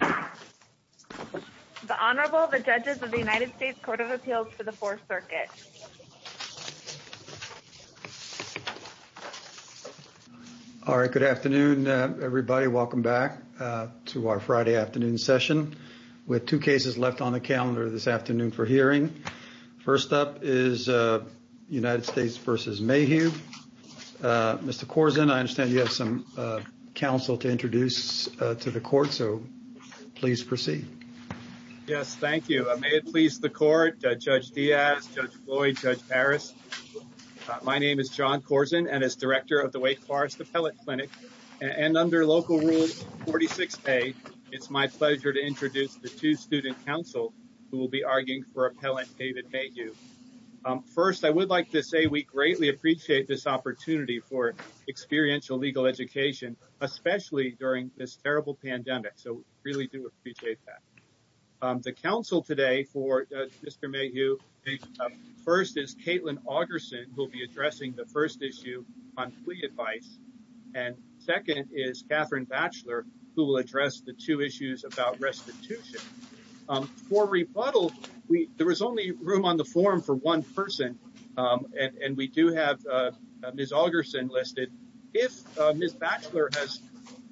The Honorable, the Judges of the United States Court of Appeals for the Fourth Circuit. All right. Good afternoon, everybody. Welcome back to our Friday afternoon session. We have two cases left on the calendar this afternoon for hearing. First up is United States v. David Mayhew. Mr. Corzine, I understand you have some counsel to introduce to the Court, so please proceed. Yes, thank you. May it please the Court, Judge Diaz, Judge Floyd, Judge Parris, my name is John Corzine and as Director of the Wake Forest Appellate Clinic and under Local Rule 46A, it's my pleasure to introduce the two student counsel who will be arguing for Appellant David Mayhew. First, I would like to say we greatly appreciate this opportunity for experiential legal education, especially during this terrible pandemic, so we really do appreciate that. The counsel today for Mr. Mayhew, first is Kaitlyn Augerson who will be addressing the first issue on plea advice and second is Katherine Batchelor who will address the two issues about restitution. For rebuttal, there was only room on the forum for one person and we do have Ms. Augerson listed. If Ms. Batchelor has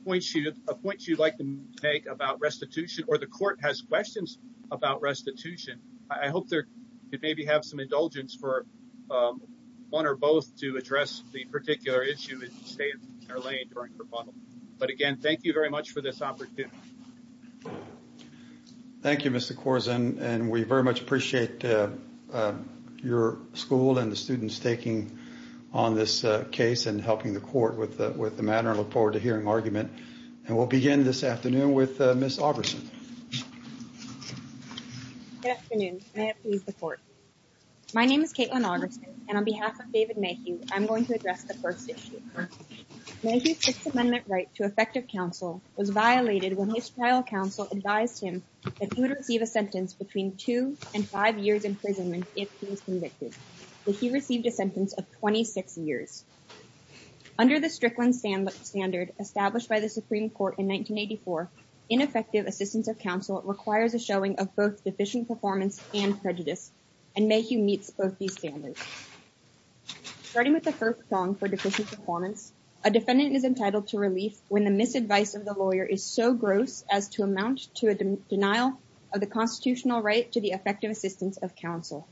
a point she'd like to make about restitution or the Court has questions about restitution, I hope there could maybe have some indulgence for one or both to address the particular issue in state or lay it during rebuttal. But again, thank you very much for this opportunity. Thank you, Mr. Corzine, and we very much appreciate your school and the students taking on this case and helping the Court with the matter. I look forward to hearing argument and we'll begin this afternoon with Ms. Augerson. Good afternoon, may it please the Court. My name is Kaitlyn Augerson and on behalf of Mayhew's Sixth Amendment right to effective counsel was violated when his trial counsel advised him that he would receive a sentence between two and five years imprisonment if he was convicted, but he received a sentence of 26 years. Under the Strickland standard established by the Supreme Court in 1984, ineffective assistance of counsel requires a showing of both deficient performance and prejudice and Mayhew meets both these standards. Starting with the first song for deficient performance, a defendant is entitled to relief when the misadvice of the lawyer is so gross as to amount to a denial of the constitutional right to the effective assistance of counsel.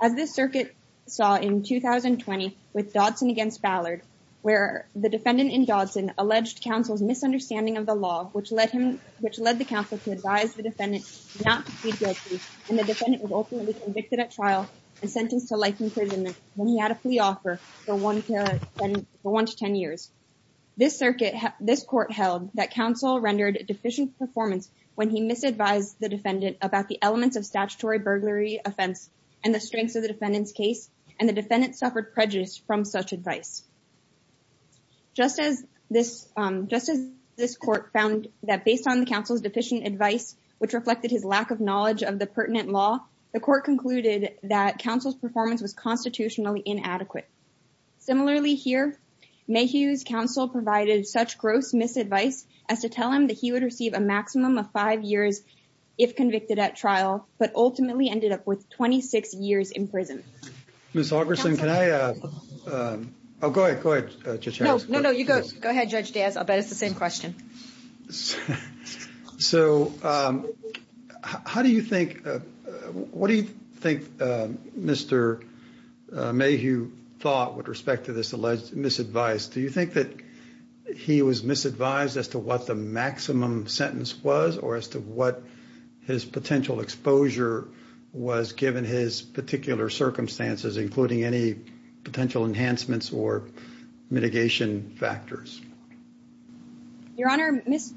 As this circuit saw in 2020 with Dodson against Ballard, where the defendant in Dodson alleged counsel's misunderstanding of the law which led him, which led the counsel to advise the defendant not to plead guilty and the defendant was ultimately convicted at trial and sentenced to life imprisonment when he had a plea offer for one to ten years. This circuit, this court held that counsel rendered a deficient performance when he misadvised the defendant about the elements of statutory burglary offense and the strengths of the defendant's case and the defendant suffered prejudice from such advice. Just as this, just as this court found that based on the counsel's deficient advice, which reflected his lack of knowledge of the pertinent law, the court concluded that counsel's performance was constitutionally inadequate. Similarly here, Mayhew's counsel provided such gross misadvice as to tell him that he would receive a maximum of five years if convicted at trial, but ultimately ended up with 26 years in prison. Ms. Augerson, can I, oh go ahead, go ahead. No, no, no, you go ahead, Judge Daz. I'll bet it's the same question. So how do you think, what do you think Mr. Mayhew thought with respect to this alleged misadvice? Do you think that he was misadvised as to what the maximum sentence was or as to what his potential exposure was given his particular circumstances, including any Your Honor, Ms.,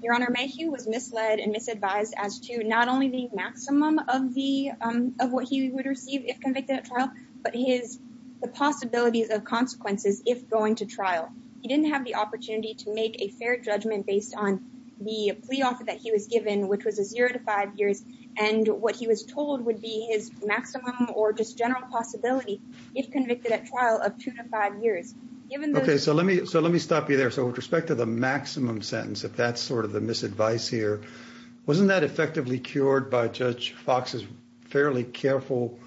Your Honor, Mayhew was misled and misadvised as to not only the maximum of the, of what he would receive if convicted at trial, but his, the possibilities of consequences if going to trial. He didn't have the opportunity to make a fair judgment based on the plea offer that he was given, which was a zero to five years and what he was told would be his maximum or just general possibility if convicted at trial of two to five years. Okay, so let me, so let me stop you there. So with respect to the maximum sentence, if that's sort of the misadvice here, wasn't that effectively cured by Judge Fox's fairly careful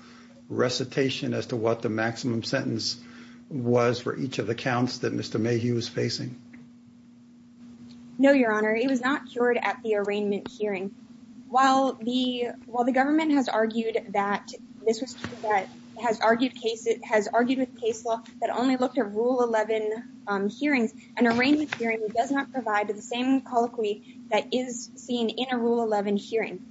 recitation as to what the maximum sentence was for each of the counts that Mr. Mayhew was facing? No, Your Honor, it was not cured at the arraignment hearing. While the, while the government has argued that this was true, that has argued case, it has not provided the same colloquy that is seen in a Rule 11 hearing.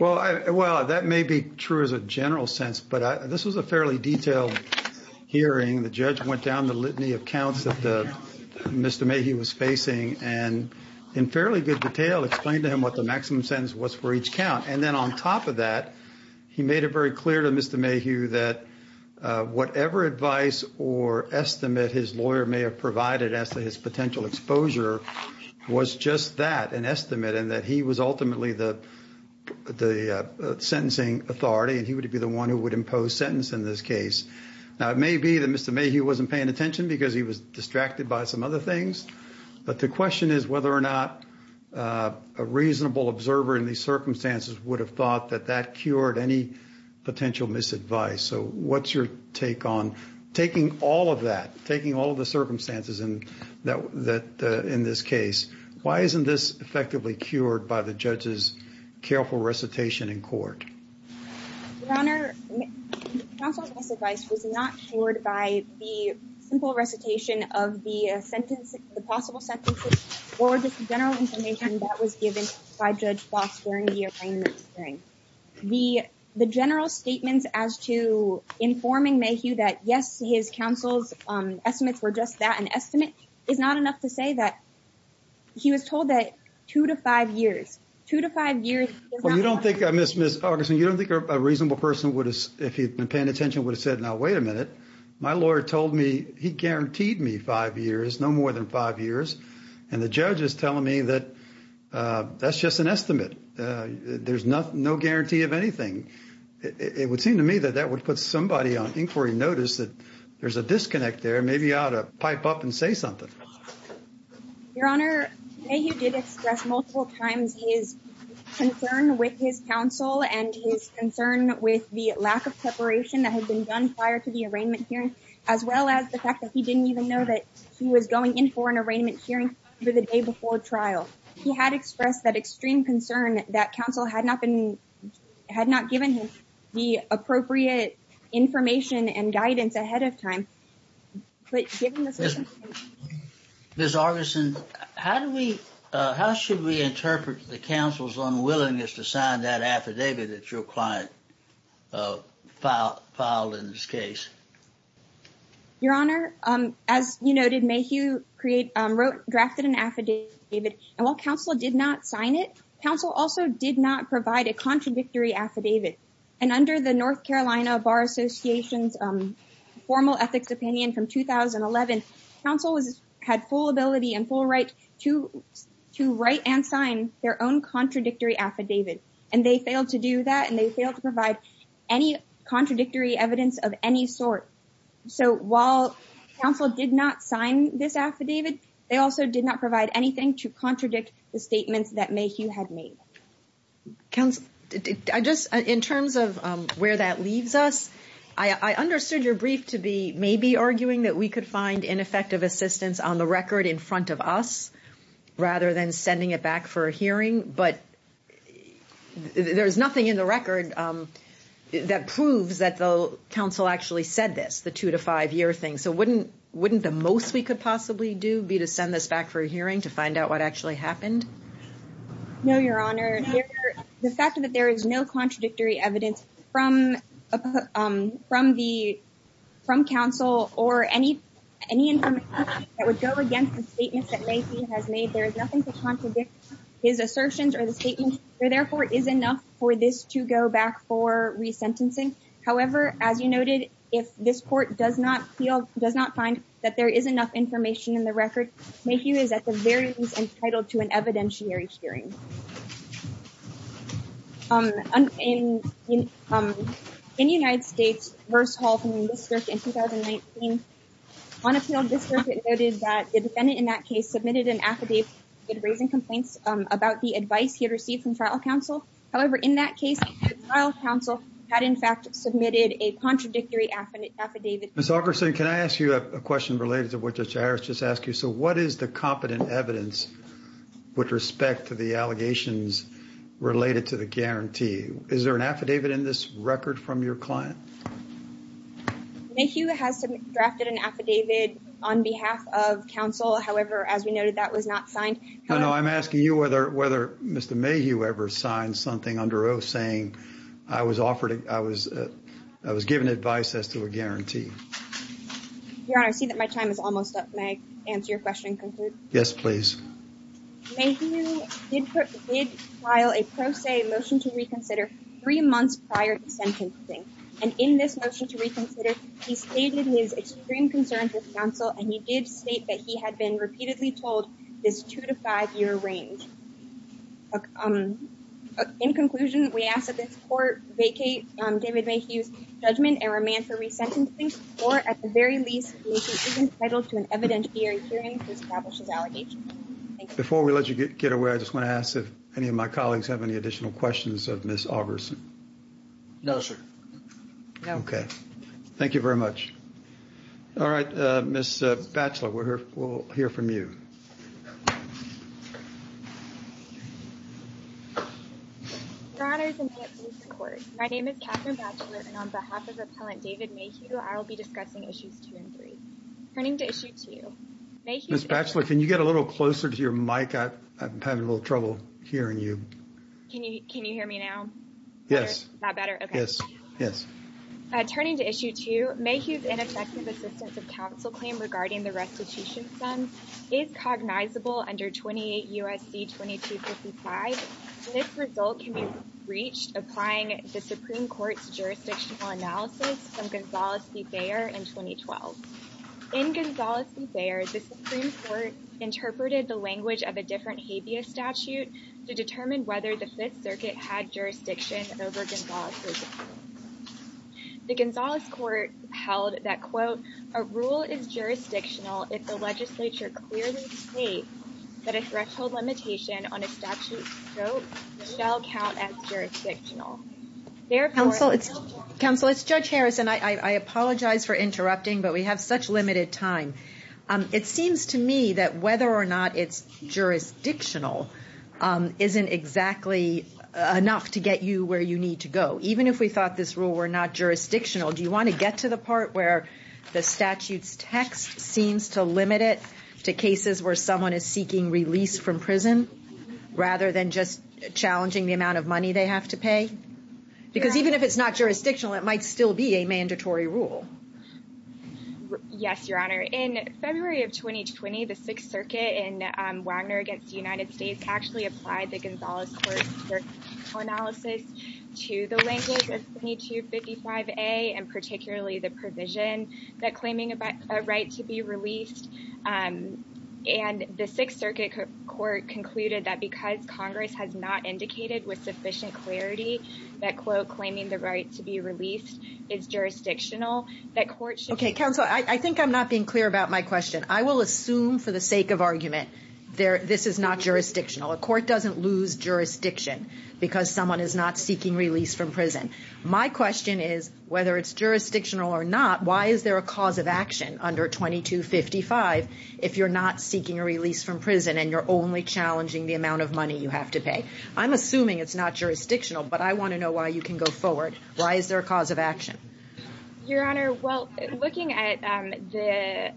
Well, that may be true as a general sense, but this was a fairly detailed hearing. The judge went down the litany of counts that Mr. Mayhew was facing and in fairly good detail explained to him what the maximum sentence was for each count. And then on top of that, he made it very clear to Mr. Mayhew that whatever advice or estimate his lawyer may have provided as to his potential exposure was just that, an estimate, and that he was ultimately the, the sentencing authority and he would be the one who would impose sentence in this case. Now, it may be that Mr. Mayhew wasn't paying attention because he was distracted by some other things, but the question is whether or not a reasonable observer in these circumstances would have thought that that cured any potential misadvice. So what's your take on taking all of that, taking all of the circumstances in that, that in this case, why isn't this effectively cured by the judge's careful recitation in court? Your Honor, counsel's advice was not cured by the simple recitation of the sentence, the possible sentences or just the general information that was given by Judge Bloss during the arraignment hearing. The, the general statements as to informing Mayhew that yes, his counsel's estimates were just that, an estimate, is not enough to say that he was told that two to five years, two to five years. Well, you don't think, Ms. Augustine, you don't think a reasonable person would have, if he'd been paying attention, would have said, now, wait a minute. My lawyer told me he guaranteed me five years, no more than five years. And the judge is telling me that that's just an estimate. There's no guarantee of anything. It would seem to me that that would put somebody on inquiry notice that there's a disconnect there. Maybe I ought to pipe up and say something. Your Honor, Mayhew did express multiple times his concern with his counsel and his concern with the lack of preparation that had been done prior to the arraignment hearing, as well as the fact that he didn't even know that he was going in for an arraignment hearing for the day before trial. He had expressed that extreme concern that counsel had not been, had not given him the appropriate information and guidance ahead of time. Ms. Augustine, how do we, how should we interpret the counsel's unwillingness to sign that affidavit that your client filed in this case? Your Honor, as you noted, Mayhew created, wrote, drafted an affidavit. And while counsel did not sign it, counsel also did not provide a contradictory affidavit. And under the North Carolina Bar Association's formal ethics opinion from 2011, counsel had full ability and full right to write and sign their own contradictory affidavit. And they failed to do that. And they So while counsel did not sign this affidavit, they also did not provide anything to contradict the statements that Mayhew had made. Counsel, I just, in terms of where that leaves us, I understood your brief to be maybe arguing that we could find ineffective assistance on the record in front of us, rather than sending it back for a hearing. But there's nothing in the record that proves that counsel actually said this, the two-to-five-year thing. So wouldn't the most we could possibly do be to send this back for a hearing to find out what actually happened? No, Your Honor. The fact that there is no contradictory evidence from counsel or any information that would go against the statements that Mayhew has made, there is nothing to contradict his assertions or the statements. Therefore, it is enough for this to go back for sentencing. However, as you noted, if this court does not feel, does not find that there is enough information in the record, Mayhew is at the very least entitled to an evidentiary hearing. In United States, Verce Hall from the district in 2019, on appeal district, it noted that the defendant in that case submitted an affidavit raising complaints about the advice he had received from trial counsel. However, in that case, trial counsel had in fact submitted a contradictory affidavit. Ms. Augerson, can I ask you a question related to what Judge Harris just asked you? So what is the competent evidence with respect to the allegations related to the guarantee? Is there an affidavit in this record from your client? Mayhew has drafted an affidavit on behalf of counsel. However, as we noted, that was not signed. No, no, I'm asking you whether Mr. Mayhew ever signed something under oath saying, I was offered, I was, I was given advice as to a guarantee. Your Honor, I see that my time is almost up. May I answer your question and conclude? Yes, please. Mayhew did file a pro se motion to reconsider three months prior to sentencing. And in this motion to reconsider, he stated his extreme concerns with counsel and he did state that he had been repeatedly told this two to five year range. In conclusion, we ask that this court vacate David Mayhew's judgment and remand for resentencing or at the very least, Mayhew is entitled to an evidentiary hearing to establish his allegations. Before we let you get away, I just want to ask if any of my colleagues have any additional questions of Ms. Augerson? No, sir. Okay, thank you very much. All right, Ms. Batchelor, we'll hear from you. Your Honor, my name is Catherine Batchelor and on behalf of Appellant David Mayhew, I will be discussing issues two and three. Turning to issue two, Mayhew- Ms. Batchelor, can you get a little closer to your mic? I'm having a little trouble hearing you. Can you, can you hear me now? Yes. Is that better? Yes. Yes. Turning to issue two, Mayhew's ineffective assistance of counsel claim regarding the restitution sum is cognizable under 28 U.S.C. 2255. This result can be reached applying the Supreme Court's jurisdictional analysis from Gonzales v. Bayer in 2012. In Gonzales v. Bayer, the Supreme Court interpreted the language of a different habeas statute to determine whether the Fifth Circuit had jurisdiction over Gonzales. The Gonzales court held that, quote, a rule is jurisdictional if the legislature clearly states that a threshold limitation on a statute's scope shall count as jurisdictional. Counsel, it's Judge Harrison. I apologize for interrupting, but we have such limited time. It seems to me that whether or not it's jurisdictional isn't exactly enough to get you where you need to go. Even if we thought this rule were not jurisdictional, do you want to get to the part where the statute's text seems to limit it to cases where someone is seeking release from prison rather than just challenging the amount of money they have to pay? Because even if it's not jurisdictional, it might still be a mandatory rule. Yes, Your Honor. In February of 2020, the Sixth Circuit in Wagner v. United States actually applied the Gonzales court's jurisdictional analysis to the language of 2255A and particularly the provision that claiming a right to be released. And the Sixth Circuit court concluded that because Congress has not indicated with sufficient clarity that, quote, claiming the right to be released is jurisdictional, that court should... Okay, counsel, I think I'm not being clear about my question. I will assume for the sake of argument, this is not jurisdictional. A court doesn't lose jurisdiction because someone is not seeking release from prison. My question is whether it's jurisdictional or not, why is there a cause of action under 2255 if you're not seeking a release from prison and you're only challenging the amount of money you have to pay? I'm assuming it's not jurisdictional, but I want to know why you can go forward. Why is there a cause of action? Your Honor, well, looking at the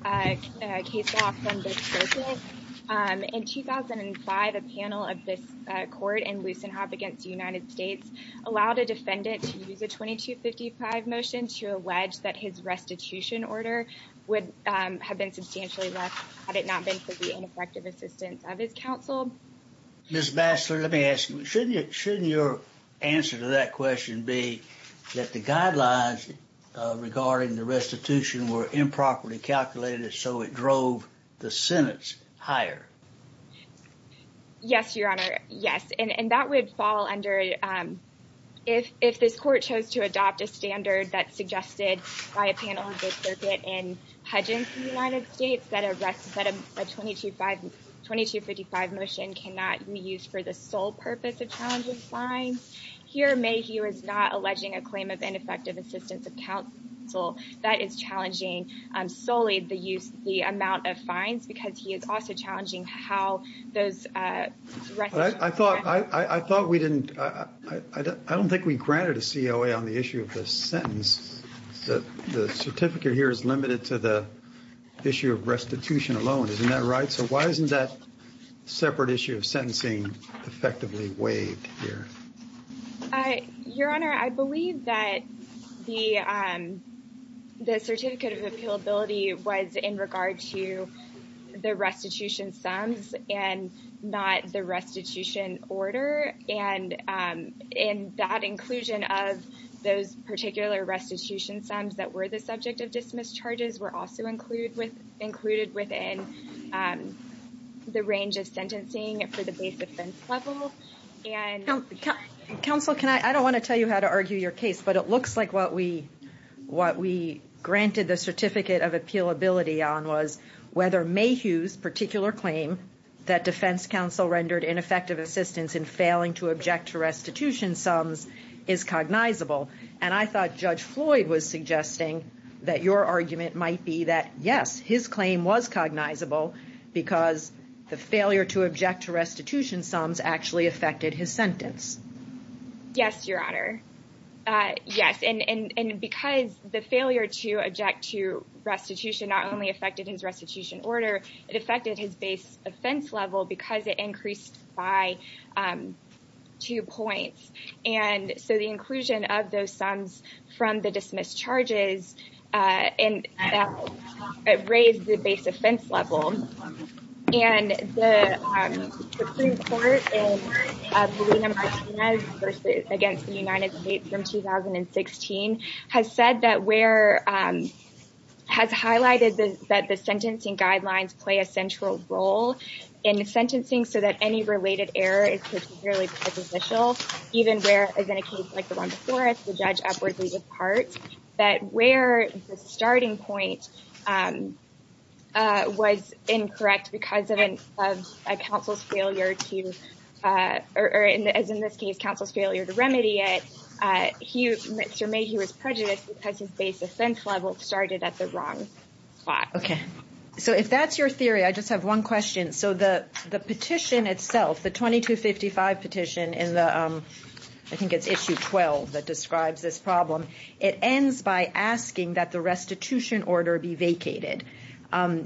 case law from the Sixth Circuit, in 2005, a panel of this court in Lussenhop v. United States allowed a defendant to use a 2255 motion to allege that his restitution order would have been substantially less had it not been for the ineffective assistance of his counsel. Ms. Batchelor, let me ask you, shouldn't your answer to that question be that the guidelines regarding the restitution were improperly calculated so it drove the sentence higher? Yes, Your Honor, yes, and that would fall under if this court chose to adopt a standard that's suggested by a panel of the circuit in Hudgens v. United States, that a 2255 motion cannot be used for the sole purpose of challenging fines. Here, Mayhew is not alleging a claim of ineffective assistance of counsel. That is challenging solely the amount of fines because he is also challenging how those restitution... I don't think we granted a COA on the issue of the sentence. The certificate here is limited to the issue of restitution alone. Isn't that right? So why isn't that separate issue of sentencing effectively waived here? Your Honor, I believe that the certificate of appealability was in regard to the restitution sums and not the restitution order, and that inclusion of those particular restitution sums that were the subject of dismiss charges were also included within the range of sentencing for the base defense level. Counsel, I don't want to tell you how to argue your case, but it looks like what we granted the certificate of appealability on was whether Mayhew's particular claim that defense counsel rendered ineffective assistance in failing to object to restitution sums is cognizable. And I thought Judge Floyd was suggesting that your argument might be that, yes, his claim was cognizable because the failure to object to restitution sums actually affected his sentence. Yes, Your Honor. Yes. And because the failure to object to restitution not only affected his restitution order, it affected his base offense level because it increased by two points. And so the inclusion of those sums from the dismiss charges raised the base offense level. And the Supreme Court in Pelina-Martinez versus against the United States from 2016 has said that where, has highlighted that the sentencing guidelines play a central role in sentencing so that any related error is particularly presidential, even where, as in a case like the one before it, the judge upwardly departs, that where the starting point was incorrect because of a counsel's failure to, or as in this case, counsel's failure to remedy it, Mr. Mayhew was prejudiced because his base offense level started at the wrong spot. Okay. So if that's your theory, I just have one question. So the petition itself, the 2255 petition in the, I think it's issue 12 that describes this problem, it ends by asking that the restitution order be vacated.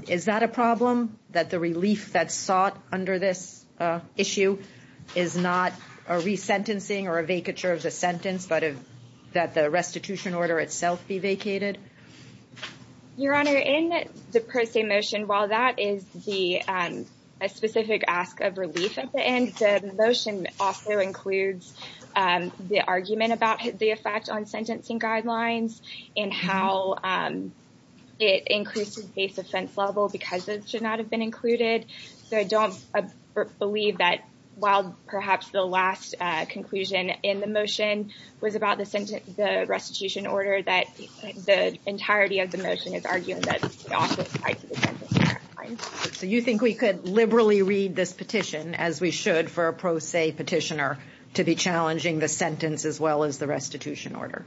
Is that a problem? That the relief that's sought under this issue is not a resentencing or a vacature of the sentence, but that the restitution order itself be vacated? Your Honor, in the per se motion, while that is the, um, a specific ask of relief at the end, the motion also includes, um, the argument about the effect on sentencing guidelines and how, um, it increases base offense level because it should not have been included. So I don't believe that while perhaps the last, uh, conclusion in the motion was about the restitution order, that the entirety of the motion is arguing that it's also tied to the sentencing guidelines. So you think we could liberally read this petition as we should for a pro se petitioner to be challenging the sentence as well as the restitution order?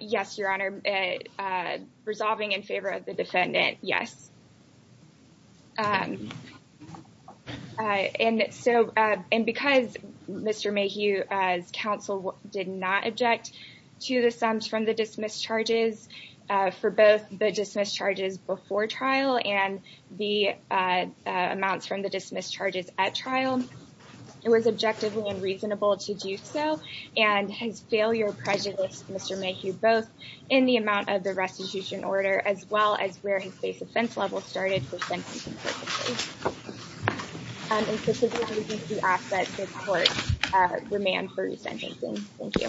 Yes, Your Honor. Uh, resolving in favor of the defendant, yes. Um, uh, and so, uh, and because Mr. Mayhew, uh, as counsel did not object to the sums from the dismissed charges, uh, for both the dismissed charges before trial and the, uh, uh, amounts from the dismissed charges at trial, it was objectively unreasonable to do so. And his failure prejudiced Mr. Mayhew both in the amount of the restitution order as well as where his base offense level started for sentencing court, uh, demand for his sentencing. Thank you.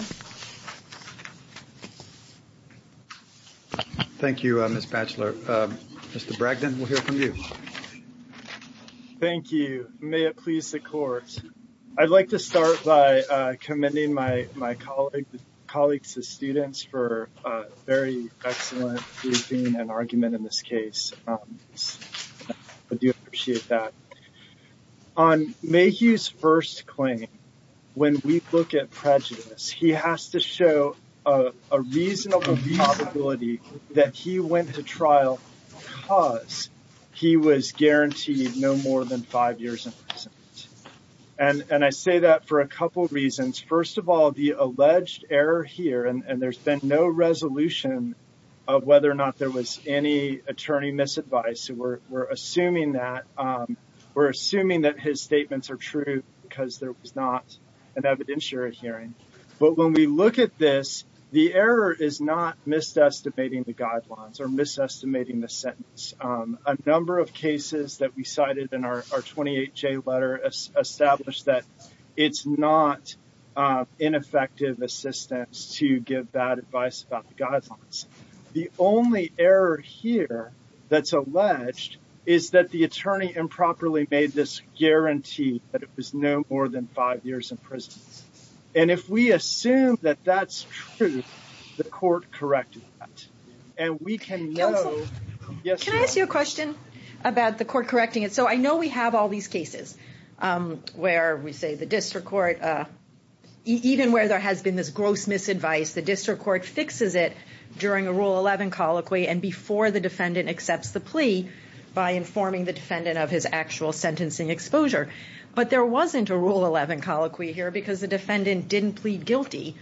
Thank you, uh, Ms. Batchelor. Um, Mr. Bragdon, we'll hear from you. Thank you. May it please the court. I'd like to start by, uh, commending my, my colleague, colleagues and students for, uh, very excellent briefing and argument in this case. Um, I do appreciate that. On Mayhew's first claim, when we look at prejudice, he has to show, uh, a reasonable probability that he went to trial because he was guaranteed no more than five years in prison. And, and I say that for a couple of reasons. First of all, the alleged error here, and there's been no resolution of whether or not there was any attorney misadvice. So we're, we're assuming that, um, we're assuming that his statements are true because there was not an evidentiary hearing. But when we look at this, the error is not mis-estimating the guidelines or mis-estimating the sentence. Um, a number of cases that we cited in our 28J letter established that it's not, uh, ineffective assistance to give bad advice about the guidelines. The only error here that's alleged is that the attorney improperly made this guarantee that it was no more than five years in prison. And if we assume that that's true, the court corrected that. And we can know... Counselor, can I ask you a question about the court correcting it? So I know we have all these cases, um, where we say the district court, uh, even where there has been this gross misadvice, the district court fixes it during a Rule 11 colloquy and before the defendant accepts the plea by informing the defendant of his actual sentencing exposure. But there wasn't a Rule 11 colloquy here because the defendant didn't plead guilty.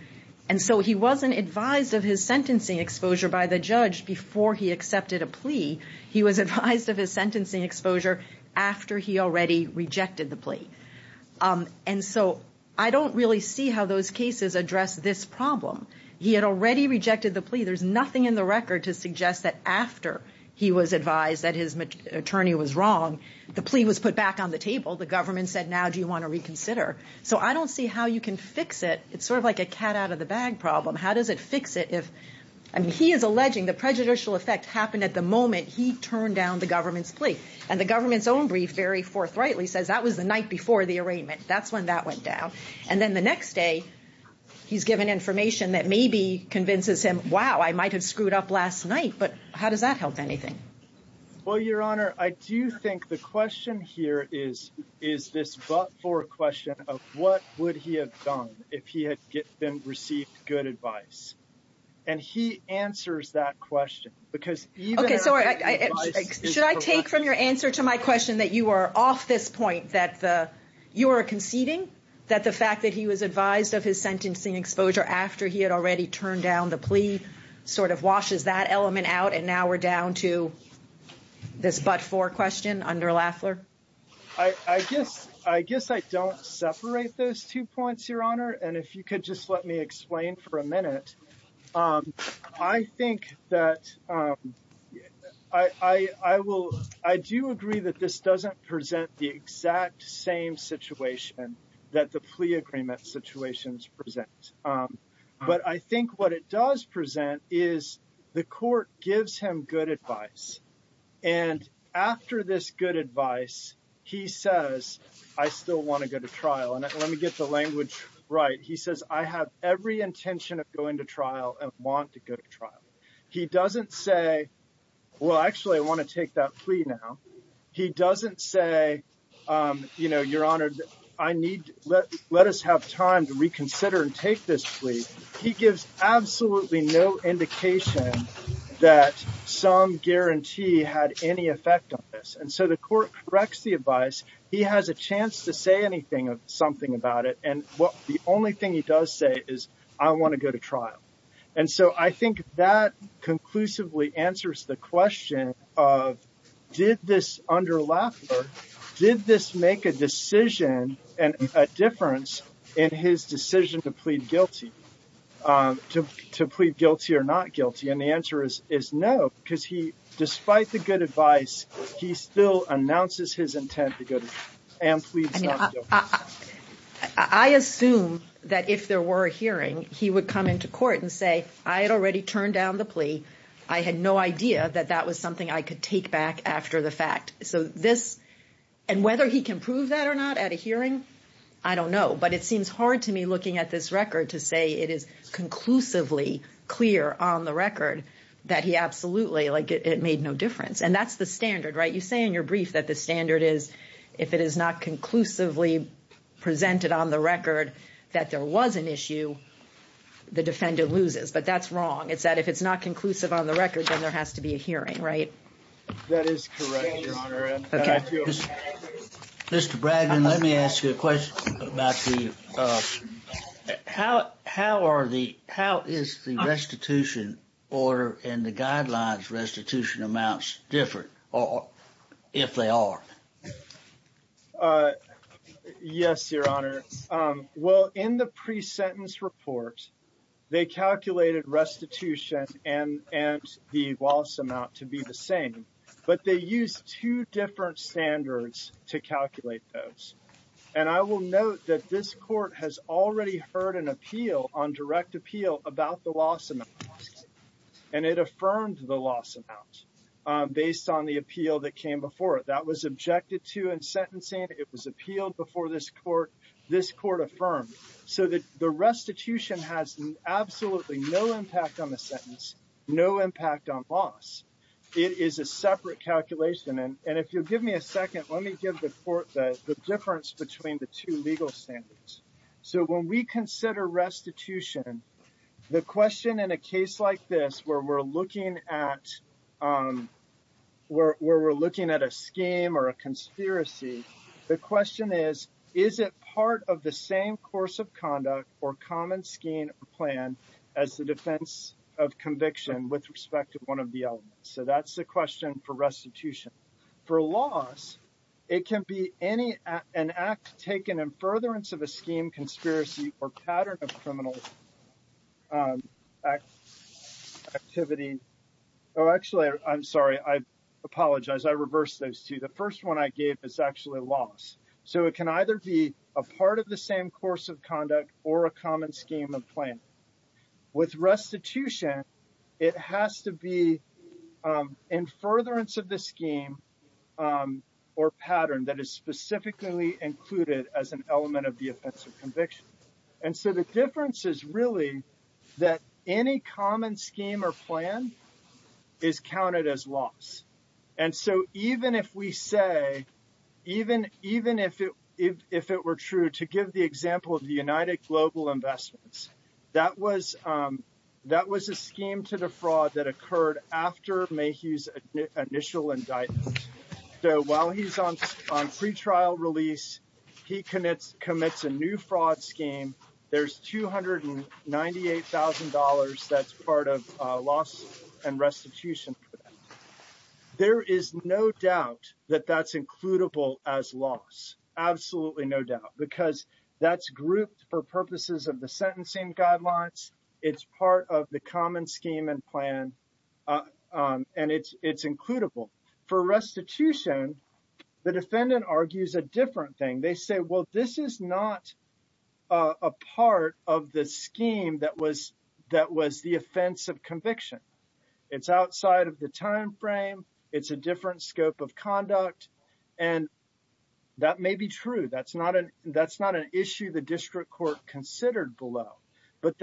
And so he wasn't advised of his sentencing exposure by the judge before he accepted a plea. He was advised of his sentencing exposure after he already rejected the plea. Um, and so I don't really see how those cases address this problem. He had already rejected the plea. There's nothing in the record to suggest that after he was advised that his attorney was wrong, the plea was put back on the table. The government said, now do you want to reconsider? So I don't see how you can fix it. It's sort of like a cat out of the bag problem. How does it fix it if... I mean, he is alleging the prejudicial effect happened at the moment he turned down the government's plea. And the government's own brief, very forthrightly, says that was the night before the arraignment. That's when that went down. And then the next day, he's given information that maybe convinces him, wow, I might have screwed up last night, but how does that help anything? Well, Your Honor, I do think the question here is, is this but-for question of what would he have done if he had been received good advice? And he answers that question because... Okay, sorry. Should I take from your answer to my question that you are off this point, that you are conceding that the fact that he was advised of his sentencing exposure after he had already turned down the plea sort of washes that element out, and now we're down to this but-for question under Laffler? I guess I don't separate those two points, Your Honor. And if you could just let me explain for a minute. I think that... I do agree that this doesn't present the exact same situation that the plea agreement situations present. But I think what it does present is the court gives him good advice. And after this good advice, he says, I still want to go to trial. And let me get the language right. He says, I have every intention of going to trial and want to go to trial. He doesn't say, well, actually, I want to take that plea now. He doesn't say, you know, Your Honor, I need... Let us have time to reconsider and take this plea. He gives absolutely no indication that some guarantee had any effect on this. And so the court corrects the advice. He has a chance to say anything, something about it. And what the only thing he does say is, I want to go to trial. And so I think that conclusively answers the question of, did this under Laffler, did this make a decision and a difference in his decision to to plead guilty or not guilty? And the answer is no, because he, despite the good advice, he still announces his intent to go to trial and plead not guilty. I mean, I assume that if there were a hearing, he would come into court and say, I had already turned down the plea. I had no idea that that was something I could take back after the fact. So this and whether he can prove that or not at a hearing, I don't know. But it seems hard to me conclusively clear on the record that he absolutely like it made no difference. And that's the standard, right? You say in your brief that the standard is if it is not conclusively presented on the record that there was an issue, the defendant loses. But that's wrong. It's that if it's not conclusive on the record, then there has to be a hearing, right? That is correct. Mr. Bragdon, let me ask you a question about the how how are the how is the restitution order and the guidelines restitution amounts different or if they are? Yes, Your Honor. Well, in the pre-sentence report, they calculated restitution and and loss amount to be the same, but they use two different standards to calculate those. And I will note that this court has already heard an appeal on direct appeal about the loss amount. And it affirmed the loss amount based on the appeal that came before it that was objected to in sentencing. It was appealed before this court. This court affirmed so that the it is a separate calculation. And if you'll give me a second, let me give the court the difference between the two legal standards. So when we consider restitution, the question in a case like this where we're looking at where we're looking at a scheme or a conspiracy, the question is, is it part of the same course of conduct or common scheme plan as the defense of conviction with respect to one of the elements? So that's the question for restitution. For loss, it can be any an act taken in furtherance of a scheme, conspiracy, or pattern of criminal activity. Oh, actually, I'm sorry. I apologize. I reversed those two. The first one I gave is actually loss. So it can either be a part of the same course of conduct or a common scheme of plan. With restitution, it has to be in furtherance of the scheme or pattern that is specifically included as an element of the offense of conviction. And so the difference is really that any common scheme or plan is counted as loss. And so even if we say, even if it were true, to give the example of the United Global Investments, that was a scheme to defraud that occurred after Mayhew's initial indictment. So while he's on pretrial release, he commits a new fraud scheme. There's $298,000 that's part of loss and restitution. There is no doubt that that's includable as loss, absolutely no doubt, because that's grouped for purposes of the sentencing guidelines. It's part of the common scheme and plan, and it's includable. For restitution, the defendant argues a different thing. They say, well, this is not a part of the scheme that was the offense of conviction. It's outside of the time frame. It's a different scope of conduct. And that may be true. That's not an issue the district court considered below. But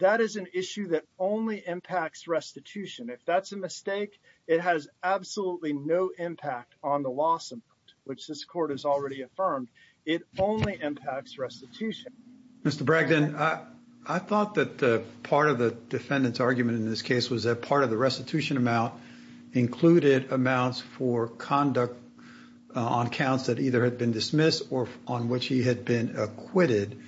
that is an issue that only impacts restitution. If that's a mistake, it has absolutely no impact on the loss amount, which this court has already affirmed. It only impacts restitution. Mr. Bragdon, I thought that part of the defendant's argument in this case was that part of the restitution amount included amounts for conduct on counts that either had been dismissed or on which he had been acquitted.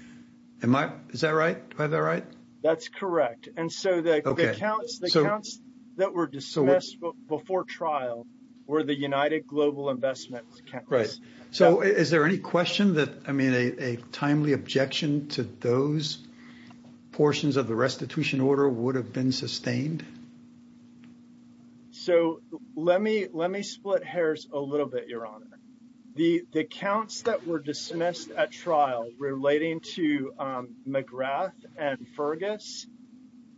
Is that right? Do I have that right? That's correct. And so the counts that were dismissed before trial were the United Global Investment Counts. Right. So is there any question that, I mean, a timely objection to those portions of the restitution order would have been sustained? So let me split hairs a little bit, Your Honor. The counts that were dismissed at trial relating to McGrath and Fergus,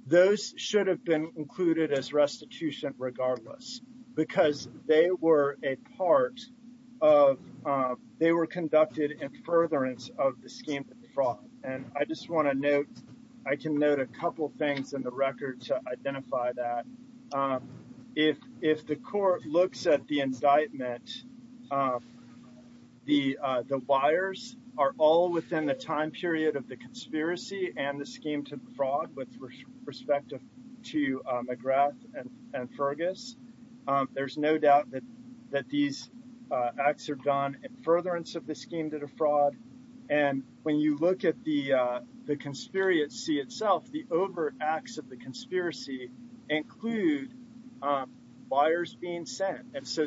those should have been included as restitution regardless, because they were a part of, they were conducted in furtherance of the scheme of fraud. And I just want to note, I can note a couple things in the record to identify that. If the court looks at the indictment, the liars are all within the time period of the conspiracy and the scheme to fraud with respect to McGrath and Fergus. There's no doubt that these acts are done in furtherance of the scheme to the fraud. And when you look at the conspiracy itself, the overt acts of the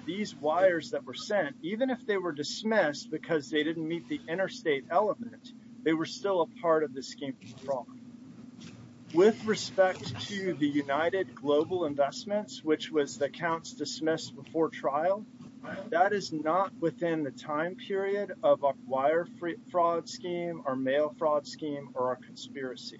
these wires that were sent, even if they were dismissed because they didn't meet the interstate element, they were still a part of the scheme to fraud. With respect to the United Global Investments, which was the counts dismissed before trial, that is not within the time period of a wire fraud scheme or mail fraud scheme or a conspiracy.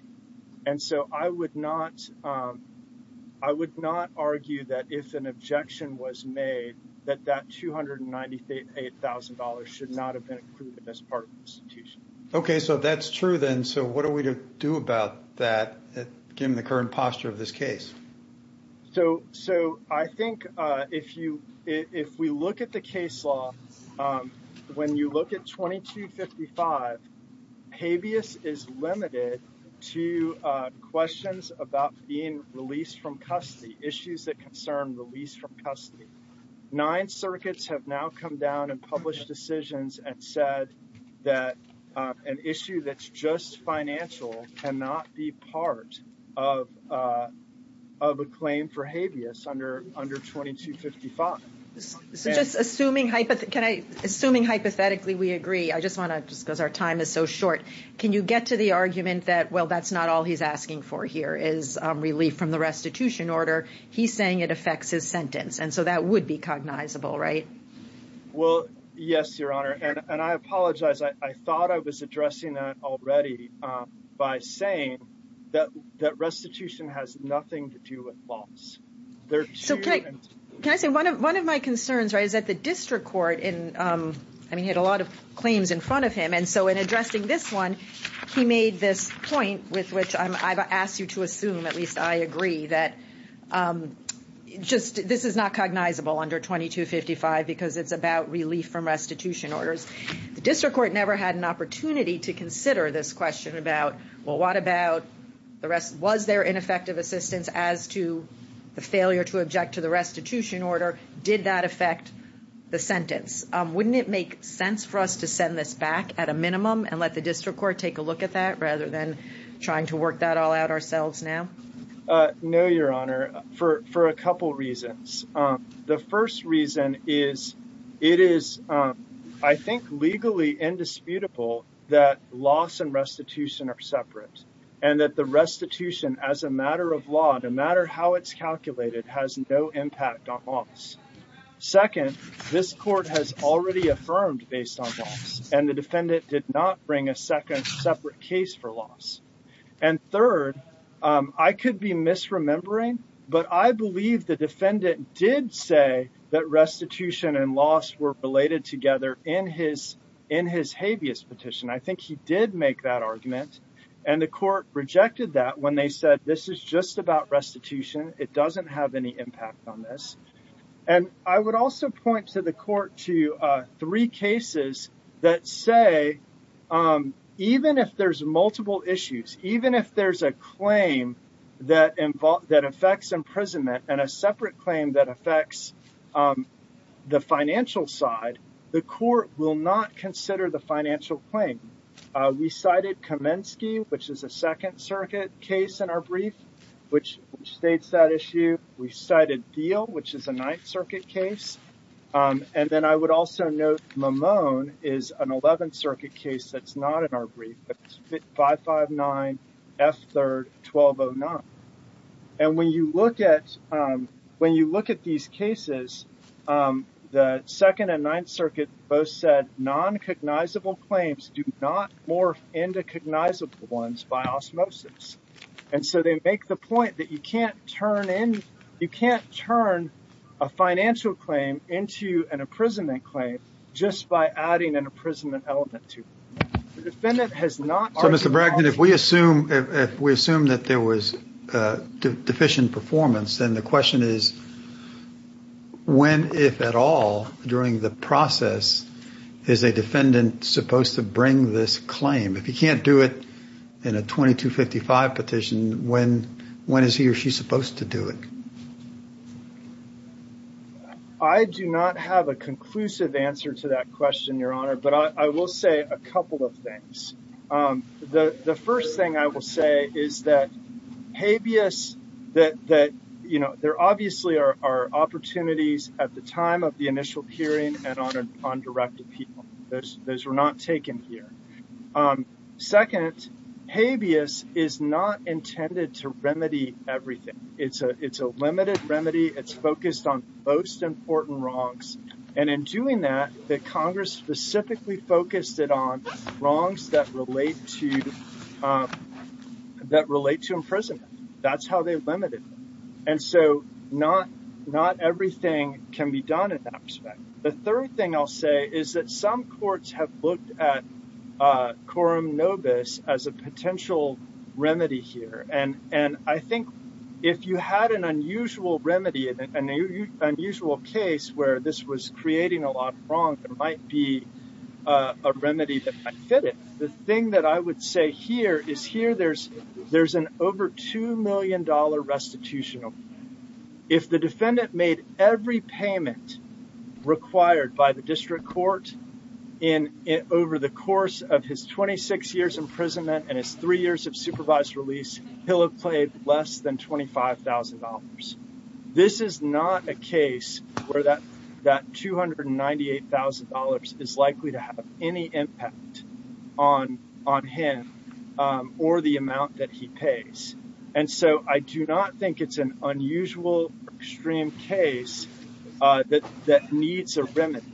And so I would not, I would not that if an objection was made that that $298,000 should not have been included as part of the restitution. Okay, so that's true then. So what are we to do about that given the current posture of this case? So I think if we look at the case law, when you look at 2255, habeas is limited to questions about being released from custody, issues that concern release from custody. Nine circuits have now come down and published decisions and said that an issue that's just financial cannot be part of a claim for habeas under 2255. So just assuming hypothetically we agree, I just want to just because our time is so short, can you get to the argument that, well, that's not all he's asking for here is relief from the restitution order. He's saying it affects his sentence. And so that would be cognizable, right? Well, yes, Your Honor. And I apologize. I thought I was addressing that already by saying that restitution has nothing to do with loss. So can I say one of my concerns, right, is that the district court in, I mean, he had a lot of claims in front of him. And so in addressing this one, he made this point with which I've asked you to assume, at least I agree, that just this is not cognizable under 2255 because it's about relief from restitution orders. The district court never had an opportunity to consider this the failure to object to the restitution order. Did that affect the sentence? Wouldn't it make sense for us to send this back at a minimum and let the district court take a look at that rather than trying to work that all out ourselves now? No, Your Honor, for a couple reasons. The first reason is it is, I think, legally indisputable that loss and restitution are separate and that restitution, as a matter of law, no matter how it's calculated, has no impact on loss. Second, this court has already affirmed based on loss and the defendant did not bring a second separate case for loss. And third, I could be misremembering, but I believe the defendant did say that restitution and loss were related together in his habeas petition. I think he did make that argument and the court rejected that when they said this is just about restitution, it doesn't have any impact on this. And I would also point to the court to three cases that say even if there's multiple issues, even if there's a claim that affects imprisonment and a separate Kamensky, which is a Second Circuit case in our brief, which states that issue. We cited Thiel, which is a Ninth Circuit case. And then I would also note Mamone is an Eleventh Circuit case that's not in our brief, 559F3-1209. And when you look at these cases, the Second and Ninth Circuit both said non-cognizable claims do not morph into cognizable ones by osmosis. And so they make the point that you can't turn in, you can't turn a financial claim into an imprisonment claim just by adding an imprisonment element to it. The defendant has not. So Mr. Bragdon, if we assume that there was deficient performance, then the question is when, if at all, during the process is a defendant supposed to bring this claim? If he can't do it in a 2255 petition, when is he or she supposed to do it? I do not have a conclusive answer to that question, Your Honor, but I will say a couple of opportunities at the time of the initial hearing and on direct appeal. Those were not taken here. Second, habeas is not intended to remedy everything. It's a limited remedy. It's focused on most important wrongs. And in doing that, the Congress specifically focused it on crimes that relate to imprisonment. That's how they limited them. And so not everything can be done in that respect. The third thing I'll say is that some courts have looked at quorum nobis as a potential remedy here. And I think if you had an unusual remedy, an unusual case where this was said here, is here there's an over $2 million restitutional. If the defendant made every payment required by the district court over the course of his 26 years imprisonment and his three years of supervised release, he'll have played less than $25,000. This is not a case where that $298,000 is likely to have any impact on him or the amount that he pays. And so I do not think it's an unusual extreme case that needs a remedy.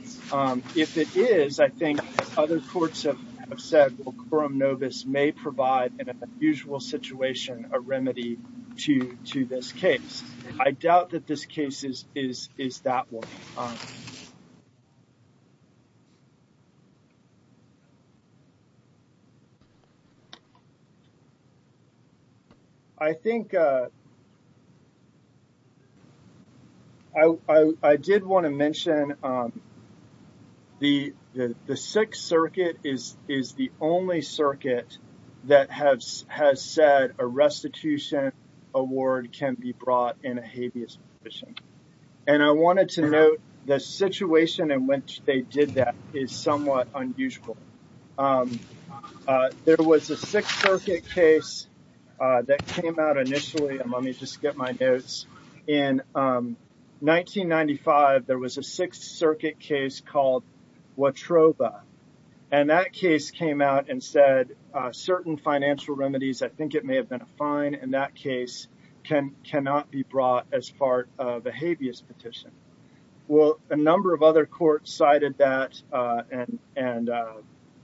If it is, I think other courts have said quorum nobis may provide an unusual situation, a remedy to this case. I doubt that this case is that one. I think I did want to mention the Sixth Circuit is the only circuit that has said a restitution award can be brought in a habeas position. And I wanted to note the situation in which they did that is somewhat unusual. There was a Sixth Circuit case that came out initially, and let me just get my notes. In 1995, there was a Sixth Circuit case called Watrova. And that case came out and said certain financial remedies, I think it may have been a fine in that case, can cannot be brought as part of a habeas petition. Well, a number of other courts cited that and,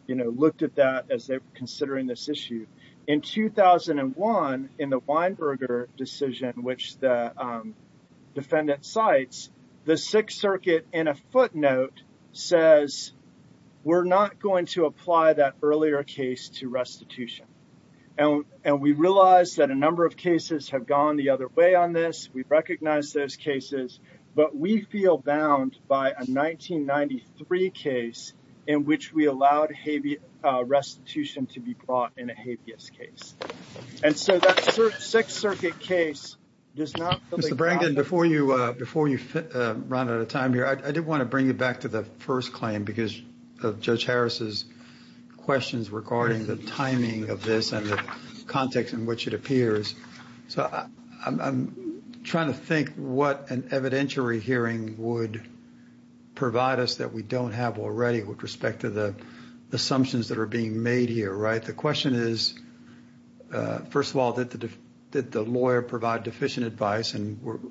you know, looked at that as they're considering this issue. In 2001, in the Weinberger decision, which the defendant cites, the Sixth Circuit in a footnote says, we're not going to apply that earlier case to restitution. And we realize that a number of cases have gone the other way on this. We recognize those cases. But we feel bound by a 1993 case in which we allowed habeas restitution to be brought in a habeas case. And so that Sixth Circuit case does not. Mr. Brangden, before you run out of time here, I did want to bring you back to the first claim because of Judge Harris's questions regarding the timing of this and the context in which it appears. So I'm trying to think what an evidentiary hearing would provide us that we don't have already with respect to the assumptions that are being made here, right? The question is, first of all, did the lawyer provide deficient advice? And we're got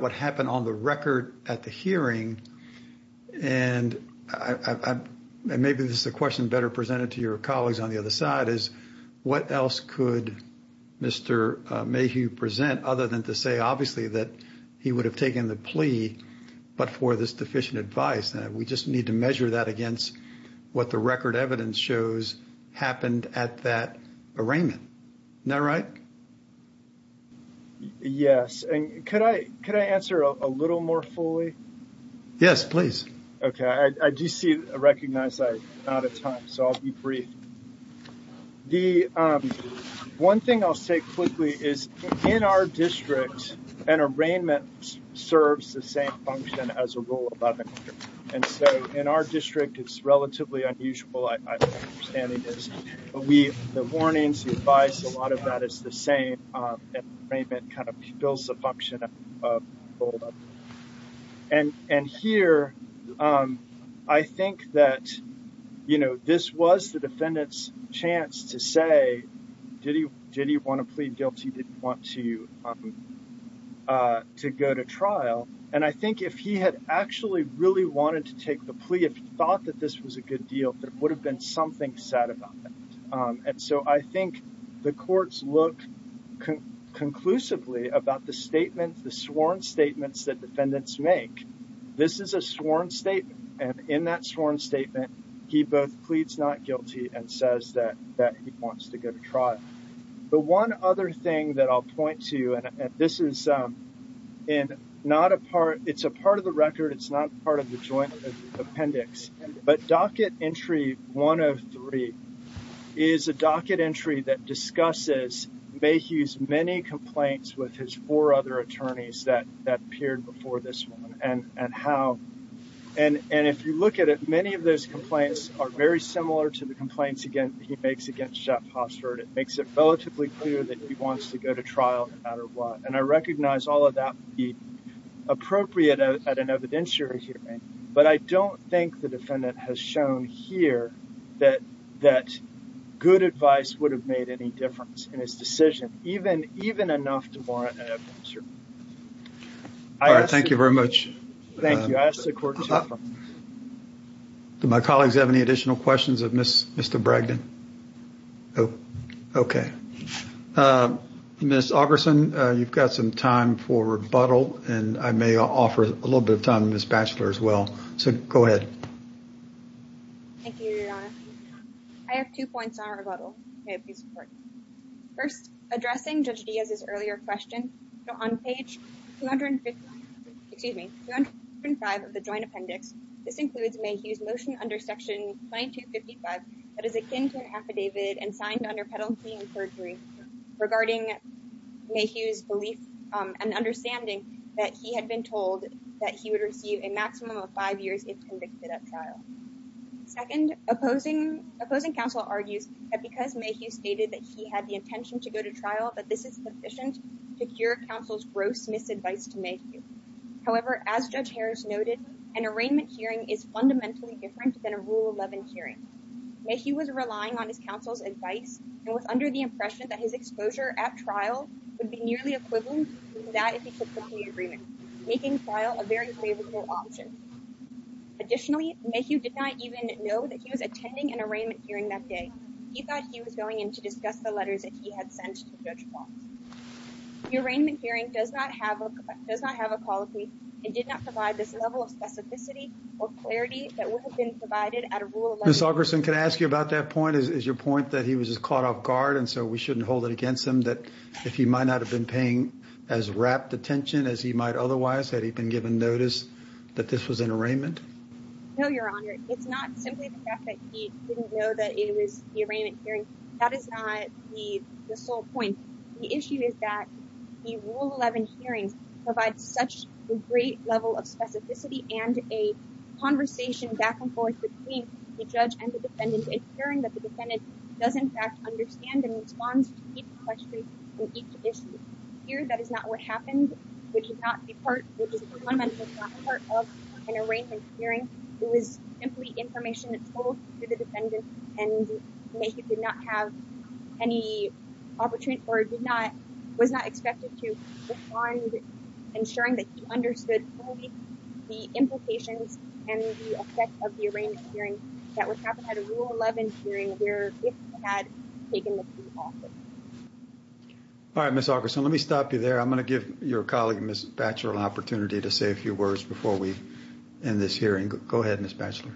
what happened on the record at the hearing. And maybe this is a question better presented to your colleagues on the other side, is what else could Mr. Mayhew present other than to say, obviously, that he would have taken the plea, but for this deficient advice? We just need to measure that against what the record evidence shows happened at that arraignment. Isn't that right? Yes. And could I could I answer a little more fully? Yes, please. Okay. I do see recognize I'm out of time. So I'll be brief. The one thing I'll say quickly is in our district, an arraignment serves the same function as a rule of 11. And so in our district, it's relatively unusual. The warnings, the advice, a lot of that is the same. Arraignment kind of fills the function of a rule of 11. And here, I think that, you know, this was the defendant's chance to say, did he want to plead guilty? Did he want to go to trial? And I think if he had actually really wanted to take the plea, if he thought that this was a good deal, there would have been something said about that. And so I think the courts look conclusively about the statement, the sworn statements that defendants make. This is a sworn statement. And in that sworn statement, he both pleads not guilty and says that he wants to go to trial. The one other thing that I'll point to, and this is not a part, it's a part of the record, it's not part of the joint appendix, but docket entry 103 is a docket entry that discusses Mayhew's many complaints with his four other attorneys that appeared before this one. And if you look at it, many of those complaints are very similar to the complaints he makes against Jeff Hofstede. It makes it relatively clear that he wants to go to trial no matter what. And I recognize all of that would be appropriate at an evidentiary hearing, but I don't think the defendant has shown here that good advice would have made any difference in his decision, even enough to warrant an evidentiary hearing. All right. Thank you very much. Thank you. I ask the court to confirm. Do my colleagues have any additional questions of Mr. Bragdon? Oh, okay. Ms. Augerson, you've got some time for rebuttal, and I may offer a little bit of time to Ms. Batchelor as well. So go ahead. Thank you, Your Honor. I have two points on rebuttal. First, addressing Judge Diaz's earlier question, on page 255 of the joint appendix, this includes Mayhew's motion under section 2255 that is akin to an affidavit and signed under penalty and perjury regarding Mayhew's belief and understanding that he had been told that he would receive a maximum of five years if convicted at trial. Second, opposing counsel argues that because Mayhew stated that he had the intention to go to trial, that this is sufficient to cure counsel's gross misadvice to Mayhew. However, as Judge Harris noted, an arraignment hearing is fundamentally different than a Rule 11 hearing. Mayhew was relying on his counsel's advice and was under the impression that his exposure at trial would be nearly equivalent to that if he took the plea agreement, making trial a very favorable option. Additionally, Mayhew did not even know that he was attending an arraignment hearing that day. He thought he was going in to discuss the letters that he had sent to Judge and did not provide this level of specificity or clarity that would have been provided at a Rule 11 hearing. Ms. Ogerson, can I ask you about that point? Is your point that he was just caught off guard and so we shouldn't hold it against him that if he might not have been paying as rapt attention as he might otherwise, had he been given notice that this was an arraignment? No, Your Honor. It's not simply the fact that he didn't know that it was the arraignment hearing. That is not the sole point. The issue is that the Rule 11 hearings provide such a great level of specificity and a conversation back and forth between the judge and the defendant, ensuring that the defendant does in fact understand and responds to each question and each issue. Here, that is not what happened, which is not a part of an arraignment hearing. It was simply information that was told to the defendant and he did not have any opportunity or was not expected to respond, ensuring that he understood only the implications and the effect of the arraignment hearing that would happen at a Rule 11 hearing where it had taken the seat of office. All right, Ms. Ogerson, let me stop you there. I'm going to give your in this hearing. Go ahead, Ms. Batchelor.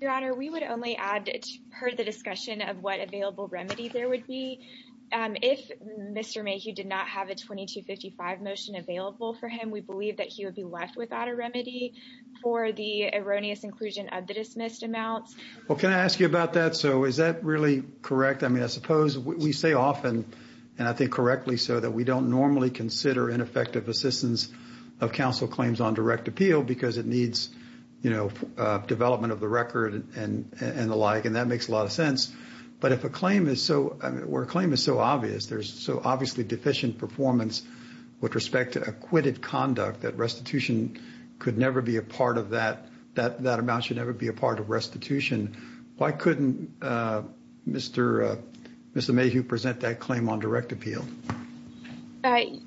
Your Honor, we would only add, per the discussion of what available remedy there would be, if Mr. Mayhew did not have a 2255 motion available for him, we believe that he would be left without a remedy for the erroneous inclusion of the dismissed amounts. Well, can I ask you about that? So is that really correct? I mean, I suppose we say often, and I think correctly, so that we don't normally consider ineffective assistance of counsel claims on direct appeal because it needs, you know, development of the record and the like, and that makes a lot of sense. But if a claim is so obvious, there's so obviously deficient performance with respect to acquitted conduct that restitution could never be a part of that, that amount should never be a part of restitution. Why couldn't Mr. Mayhew present that on direct appeal?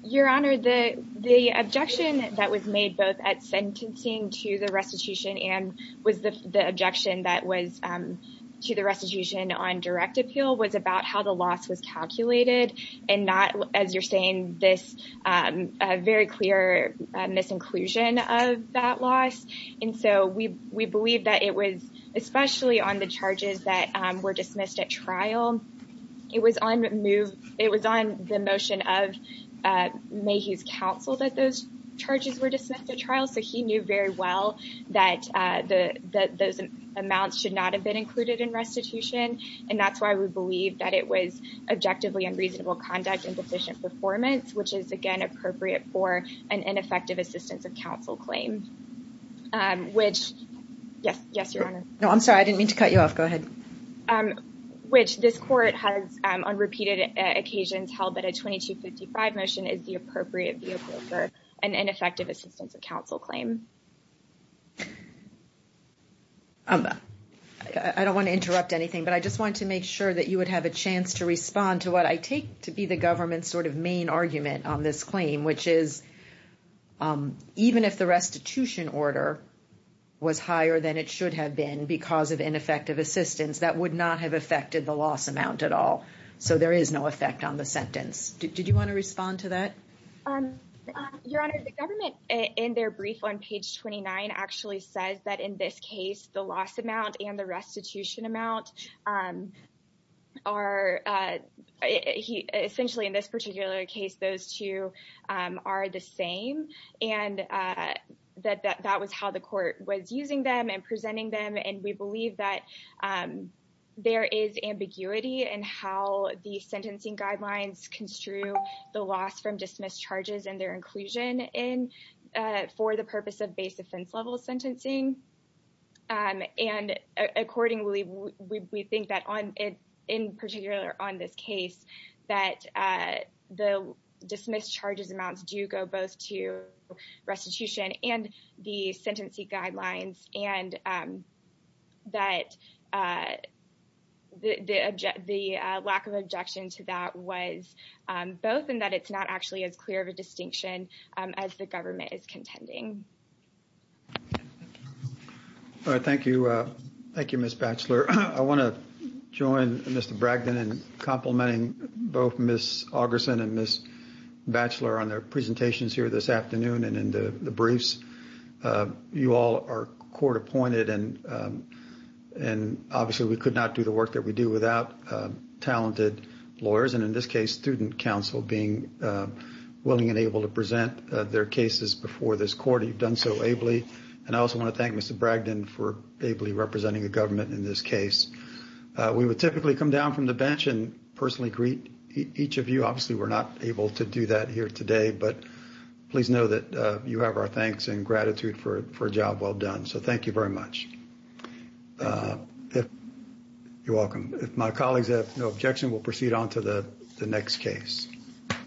Your Honor, the objection that was made both at sentencing to the restitution and was the objection that was to the restitution on direct appeal was about how the loss was calculated and not, as you're saying, this very clear misinclusion of that loss. And so we believe that it was, especially on the charges that were dismissed at trial, it was on the motion of Mayhew's counsel that those charges were dismissed at trial, so he knew very well that those amounts should not have been included in restitution, and that's why we believe that it was objectively unreasonable conduct and deficient performance, which is, again, appropriate for an ineffective assistance of counsel claim, which, yes, yes, Your Honor. No, I'm sorry. I didn't mean to cut you off. Go ahead. Which this court has on repeated occasions held that a 2255 motion is the appropriate vehicle for an ineffective assistance of counsel claim. I don't want to interrupt anything, but I just wanted to make sure that you would have a chance to respond to what I take to be the government's sort of main argument on this claim, which is even if the restitution order was higher than it should have been because of ineffective assistance, that would not have affected the loss amount at all. So there is no effect on the sentence. Did you want to respond to that? Your Honor, the government, in their brief on page 29, actually says that in this case, the loss amount and the restitution amount are essentially in this particular case, those two are the same and that that was how the court was using them and presenting them. And we believe that there is ambiguity in how the sentencing guidelines construe the loss from dismissed charges and their inclusion in for the purpose base offense level sentencing. And accordingly, we think that on it, in particular on this case, that the dismissed charges amounts do go both to restitution and the sentencing guidelines and that the lack of objection to that was both and that it's not actually as clear of a distinction as the government is contending. All right. Thank you. Thank you, Ms. Batchelor. I want to join Mr. Bragdon in complimenting both Ms. Augerson and Ms. Batchelor on their presentations here this afternoon and in the briefs. You all are court appointed and obviously we could not do the work that we do without talented lawyers. And in this case, student counsel being willing and able to their cases before this court, you've done so ably. And I also want to thank Mr. Bragdon for ably representing the government in this case. We would typically come down from the bench and personally greet each of you. Obviously, we're not able to do that here today, but please know that you have our thanks and gratitude for a job well done. So thank you very much. You're welcome. If my colleagues have no objection, we'll proceed on to the next case.